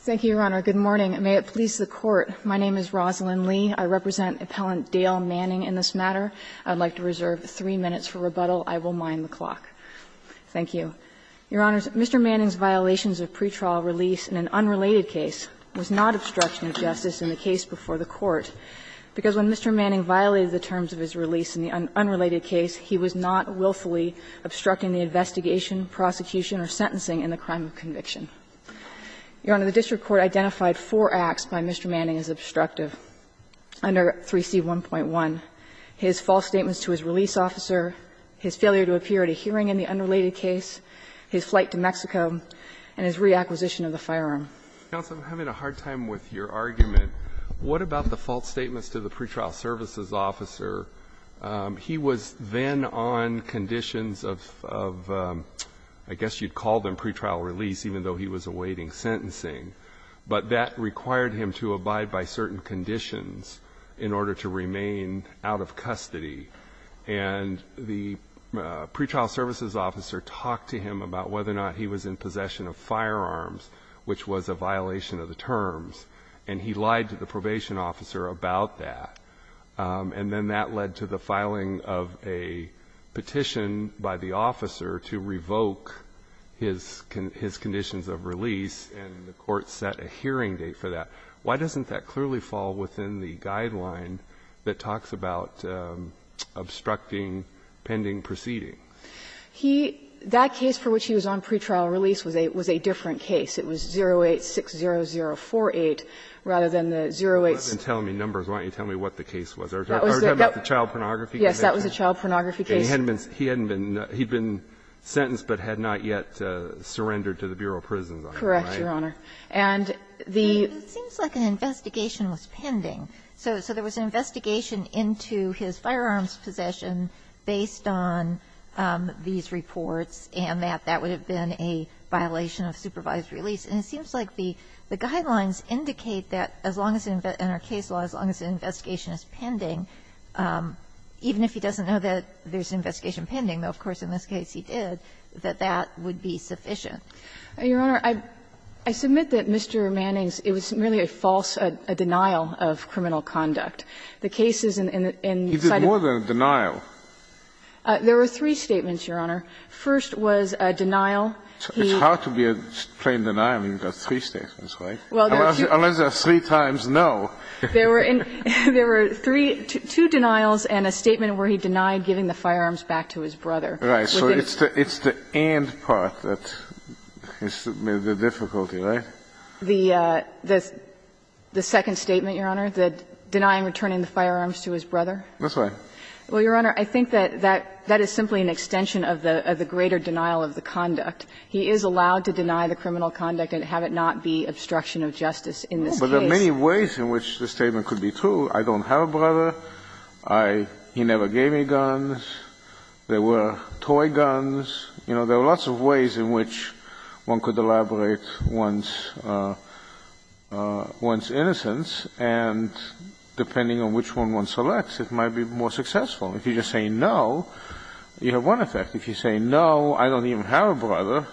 Thank you, Your Honor. Good morning. May it please the Court, my name is Rosalyn Lee. I represent Appellant Dale Manning in this matter. I would like to reserve three minutes for rebuttal. I will mind the clock. Thank you. Your Honors, Mr. Manning's violations of pretrial release in an unrelated case was not obstruction of justice in the case before the Court, because when Mr. Manning violated the terms of his release in the unrelated case, he was not willfully obstructing the investigation, prosecution, or sentencing in the crime of conviction. Your Honor, the district court identified four acts by Mr. Manning as obstructive under 3C1.1, his false statements to his release officer, his failure to appear at a hearing in the unrelated case, his flight to Mexico, and his reacquisition of the firearm. Alito, I'm having a hard time with your argument. What about the false statements to the pretrial services officer? He was then on conditions of, I guess you'd call them pretrial release, even though he was awaiting sentencing, but that required him to abide by certain conditions in order to remain out of custody. And the pretrial services officer talked to him about whether or not he was in possession of firearms, which was a violation of the terms, and he lied to the probation officer about that. And then that led to the filing of a petition by the officer to revoke his conditions of release, and the court set a hearing date for that. Why doesn't that clearly fall within the guideline that talks about obstructing pending proceeding? He – that case for which he was on pretrial release was a different case. It was 08-60048, rather than the 08's. You're not even telling me numbers. Why don't you tell me what the case was? Are we talking about the child pornography case? Yes, that was the child pornography case. And he hadn't been – he hadn't been – he'd been sentenced but had not yet surrendered to the Bureau of Prisons on that night. Correct, Your Honor. And the – It seems like an investigation was pending. So there was an investigation into his firearms possession based on these reports, and that that would have been a violation of supervised release. And it seems like the guidelines indicate that as long as – in our case law, as long as an investigation is pending, even if he doesn't know that there's an investigation pending, though of course in this case he did, that that would be sufficient. Your Honor, I submit that Mr. Manning's – it was merely a false – a denial of criminal conduct. The cases in the site of the – He did more than a denial. There were three statements, Your Honor. First was a denial. It's hard to be a plain denial when you've got three statements, right? Unless there are three times no. There were three – two denials and a statement where he denied giving the firearms back to his brother. Right. So it's the – it's the and part that is the difficulty, right? The second statement, Your Honor, the denying returning the firearms to his brother. That's right. Well, Your Honor, I think that that is simply an extension of the greater denial of the conduct. He is allowed to deny the criminal conduct and have it not be obstruction of justice in this case. But there are many ways in which the statement could be true. I don't have a brother. I – he never gave me guns. There were toy guns. You know, there are lots of ways in which one could elaborate one's innocence and, depending on which one one selects, it might be more successful. If you just say no, you have one effect. If you say no, I don't even have a brother,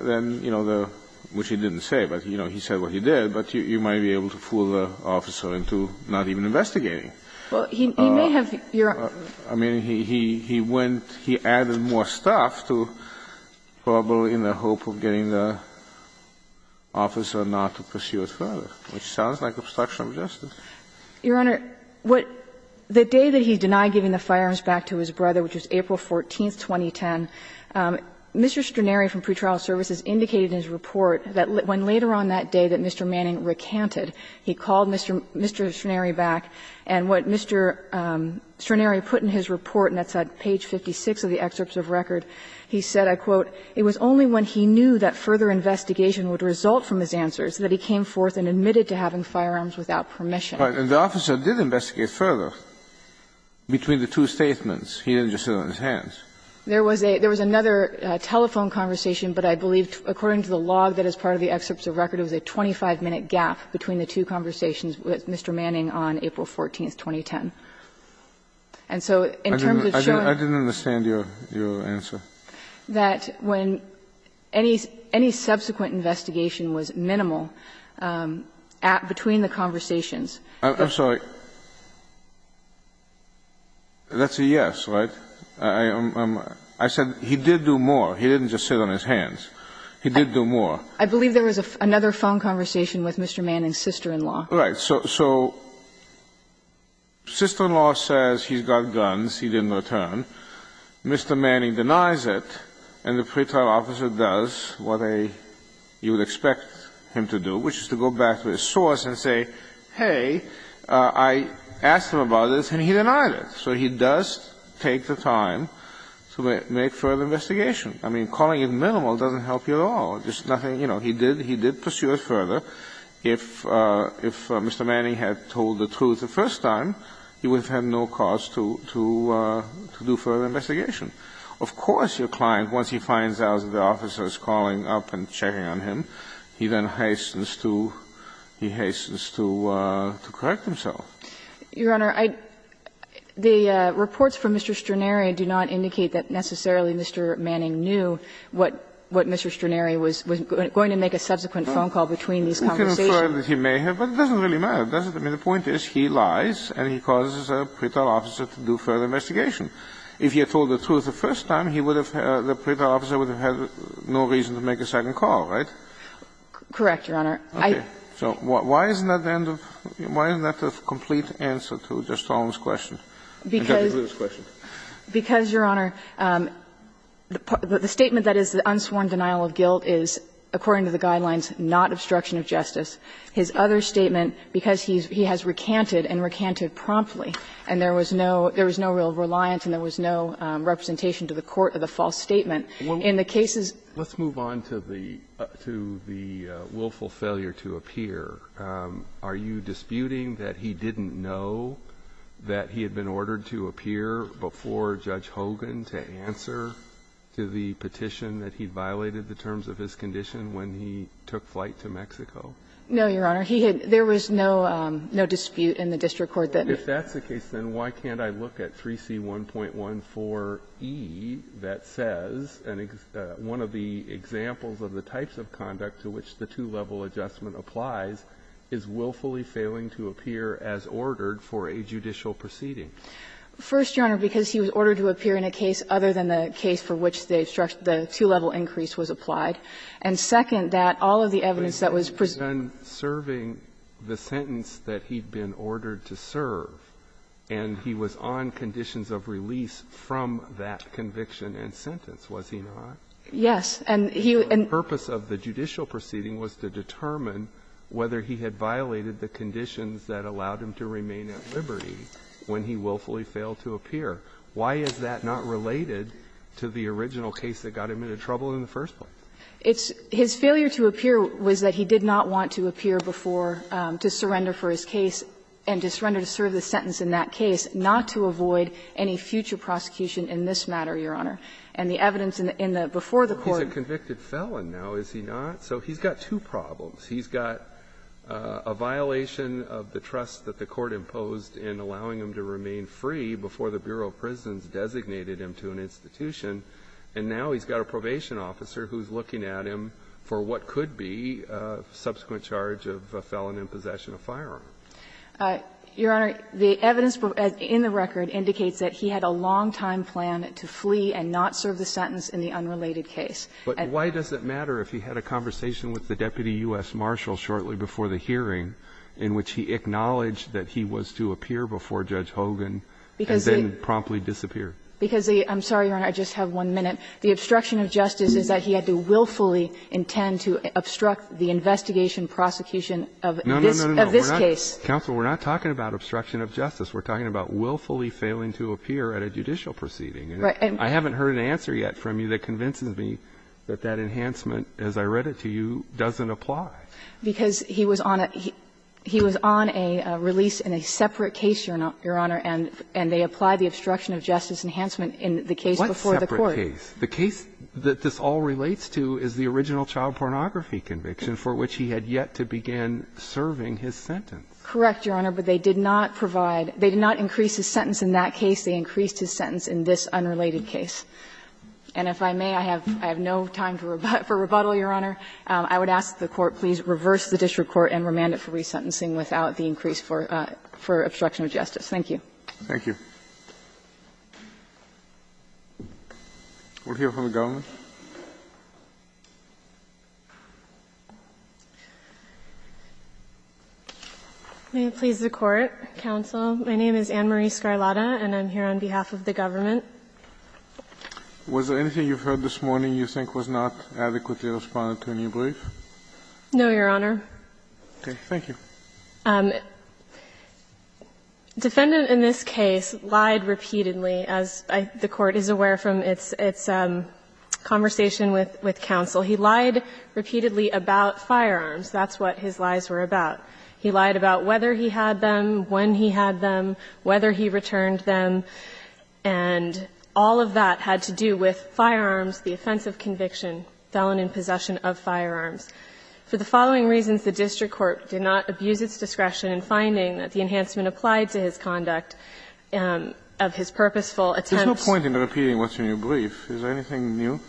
then, you know, the – which he didn't say, but, you know, he said what he did, but you might be able to fool the officer into not even investigating. Well, he may have, Your Honor – I mean, he went – he added more stuff to probably in the hope of getting the officer not to pursue it further, which sounds like obstruction of justice. Your Honor, what – the day that he denied giving the firearms back to his brother, which was April 14, 2010, Mr. Straneri from pretrial services indicated in his report that when later on that day that Mr. Manning recanted, he called Mr. Straneri back, and what Mr. Straneri put in his report, and that's on page 56 of the excerpts of record, he said, I quote, "...it was only when he knew that further investigation would result from his answers that he came forth and admitted to having firearms without permission." And the officer did investigate further between the two statements. He didn't just sit on his hands. There was a – there was another telephone conversation, but I believe according to the log that is part of the excerpts of record, it was a 25-minute gap between the two conversations with Mr. Manning on April 14, 2010. And so in terms of showing – Kennedy, I didn't understand your answer. That when any – any subsequent investigation was minimal at – between the conversations – I'm sorry. That's a yes, right? I'm – I said he did do more. He didn't just sit on his hands. He did do more. I believe there was another phone conversation with Mr. Manning's sister-in-law. Right. So – so sister-in-law says he's got guns, he didn't return. Mr. Manning denies it, and the pretrial officer does what a – you would expect him to do, which is to go back to his source and say, hey, I asked him about this and he denied it. So he does take the time to make further investigation. I mean, calling it minimal doesn't help you at all. There's nothing – you know, he did – he did pursue it further. If – if Mr. Manning had told the truth the first time, he would have had no cause to – to do further investigation. Of course, your client, once he finds out that the officer is calling up and checking on him, he then hastens to – he hastens to correct himself. Your Honor, I – the reports from Mr. Stranaria do not indicate that necessarily Mr. Manning knew what Mr. Stranaria was going to make a subsequent phone call between these conversations. He may have, but it doesn't really matter, does it? I mean, the point is he lies and he causes a pretrial officer to do further investigation. If he had told the truth the first time, he would have – the pretrial officer would have had no reason to make a second call, right? Correct, your Honor. Okay. So why isn't that the end of – why isn't that the complete answer to Mr. Stallman's question? Because – Because of his question. Because, your Honor, the statement that is the unsworn denial of guilt is, according to the guidelines, not obstruction of justice. His other statement, because he has recanted and recanted promptly and there was no – there was no real reliance and there was no representation to the court of the false statement, in the cases – Let's move on to the – to the willful failure to appear. Are you disputing that he didn't know that he had been ordered to appear before Judge Hogan to answer to the petition that he violated the terms of his condition when he took flight to Mexico? No, your Honor. He had – there was no dispute in the district court that – Well, if that's the case, then why can't I look at 3C1.14e that says, and one of the examples of the types of conduct to which the two-level adjustment applies, is willfully failing to appear as ordered for a judicial proceeding? First, your Honor, because he was ordered to appear in a case other than the case for which the two-level increase was applied. And second, that all of the evidence that was presented to him was not ordered to serve. But he was then serving the sentence that he'd been ordered to serve, and he was on conditions of release from that conviction and sentence, was he not? Yes. And he was – The purpose of the judicial proceeding was to determine whether he had violated the conditions that allowed him to remain at liberty when he willfully failed to appear. Why is that not related to the original case that got him into trouble in the first place? It's – his failure to appear was that he did not want to appear before – to surrender for his case and to surrender to serve the sentence in that case, not to avoid any future prosecution in this matter, your Honor. And the evidence in the – before the court – Well, he's a convicted felon now, is he not? So he's got two problems. He's got a violation of the trust that the court imposed in allowing him to remain free before the Bureau of Prisons designated him to an institution, and now he's got a probation officer who's looking at him for what could be a subsequent charge of a felon in possession of firearm. Your Honor, the evidence in the record indicates that he had a long-time plan to flee and not serve the sentence in the unrelated case. But why does it matter if he had a conversation with the Deputy U.S. Marshal shortly before the hearing in which he acknowledged that he was to appear before Judge Hogan and then promptly disappear? Because the – I'm sorry, your Honor, I just have one minute. The obstruction of justice is that he had to willfully intend to obstruct the investigation prosecution of this case. No, no, no, no, we're not – counsel, we're not talking about obstruction of justice. We're talking about willfully failing to appear at a judicial proceeding. Right. I haven't heard an answer yet from you that convinces me that that enhancement, as I read it to you, doesn't apply. Because he was on a – he was on a release in a separate case, your Honor, and they apply the obstruction of justice enhancement in the case before the court. What separate case? The case that this all relates to is the original child pornography conviction for which he had yet to begin serving his sentence. Correct, your Honor, but they did not provide – they did not increase his sentence in that case. They increased his sentence in this unrelated case. And if I may, I have no time for rebuttal, your Honor. I would ask the Court please reverse the district court and remand it for resentencing without the increase for obstruction of justice. Thank you. Thank you. We'll hear from the government. May it please the Court, counsel. My name is Anne-Marie Scarlata, and I'm here on behalf of the government. Was there anything you've heard this morning you think was not adequately responded to in your brief? No, your Honor. Okay. Thank you. Defendant in this case lied repeatedly, as I – the Court is aware from its – its conversation with counsel. He lied repeatedly about firearms. That's what his lies were about. He lied about whether he had them, when he had them, whether he returned them. And all of that had to do with firearms, the offense of conviction, felon in possession of firearms. For the following reasons, the district court did not abuse its discretion in finding that the enhancement applied to his conduct of his purposeful attempts – There's no point in repeating what's in your brief. Is there anything new?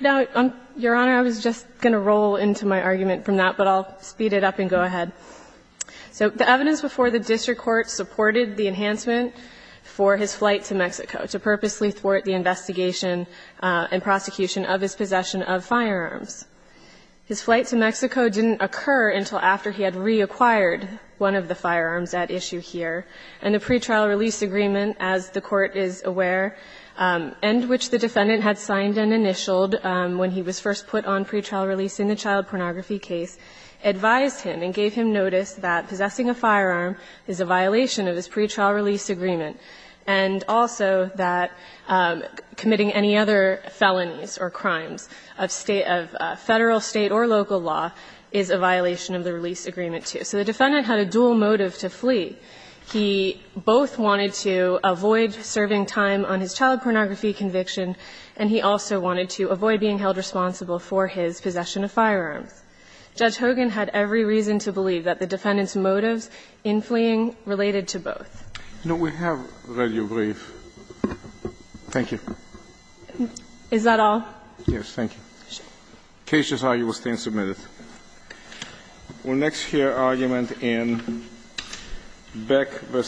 No, your Honor, I was just going to roll into my argument from that, but I'll speed it up and go ahead. So the evidence before the district court supported the enhancement for his flight to Mexico to purposely thwart the investigation and prosecution of his possession of firearms. His flight to Mexico didn't occur until after he had reacquired one of the firearms at issue here. And the pretrial release agreement, as the Court is aware, and which the defendant had signed and initialed when he was first put on pretrial release in the child pornography case, advised him and gave him notice that possessing a firearm is a violation of his pretrial release agreement, and also that committing any other felonies or crimes of State – of Federal, State, or local law is a violation of the release agreement, too. So the defendant had a dual motive to flee. He both wanted to avoid serving time on his child pornography conviction, and he also wanted to avoid being held responsible for his possession of firearms. Judge Hogan had every reason to believe that the defendant's motives in fleeing related to both. No, we have read your brief. Thank you. Is that all? Yes. Thank you. The cases are. We'll next hear argument in Beck v. Hogan.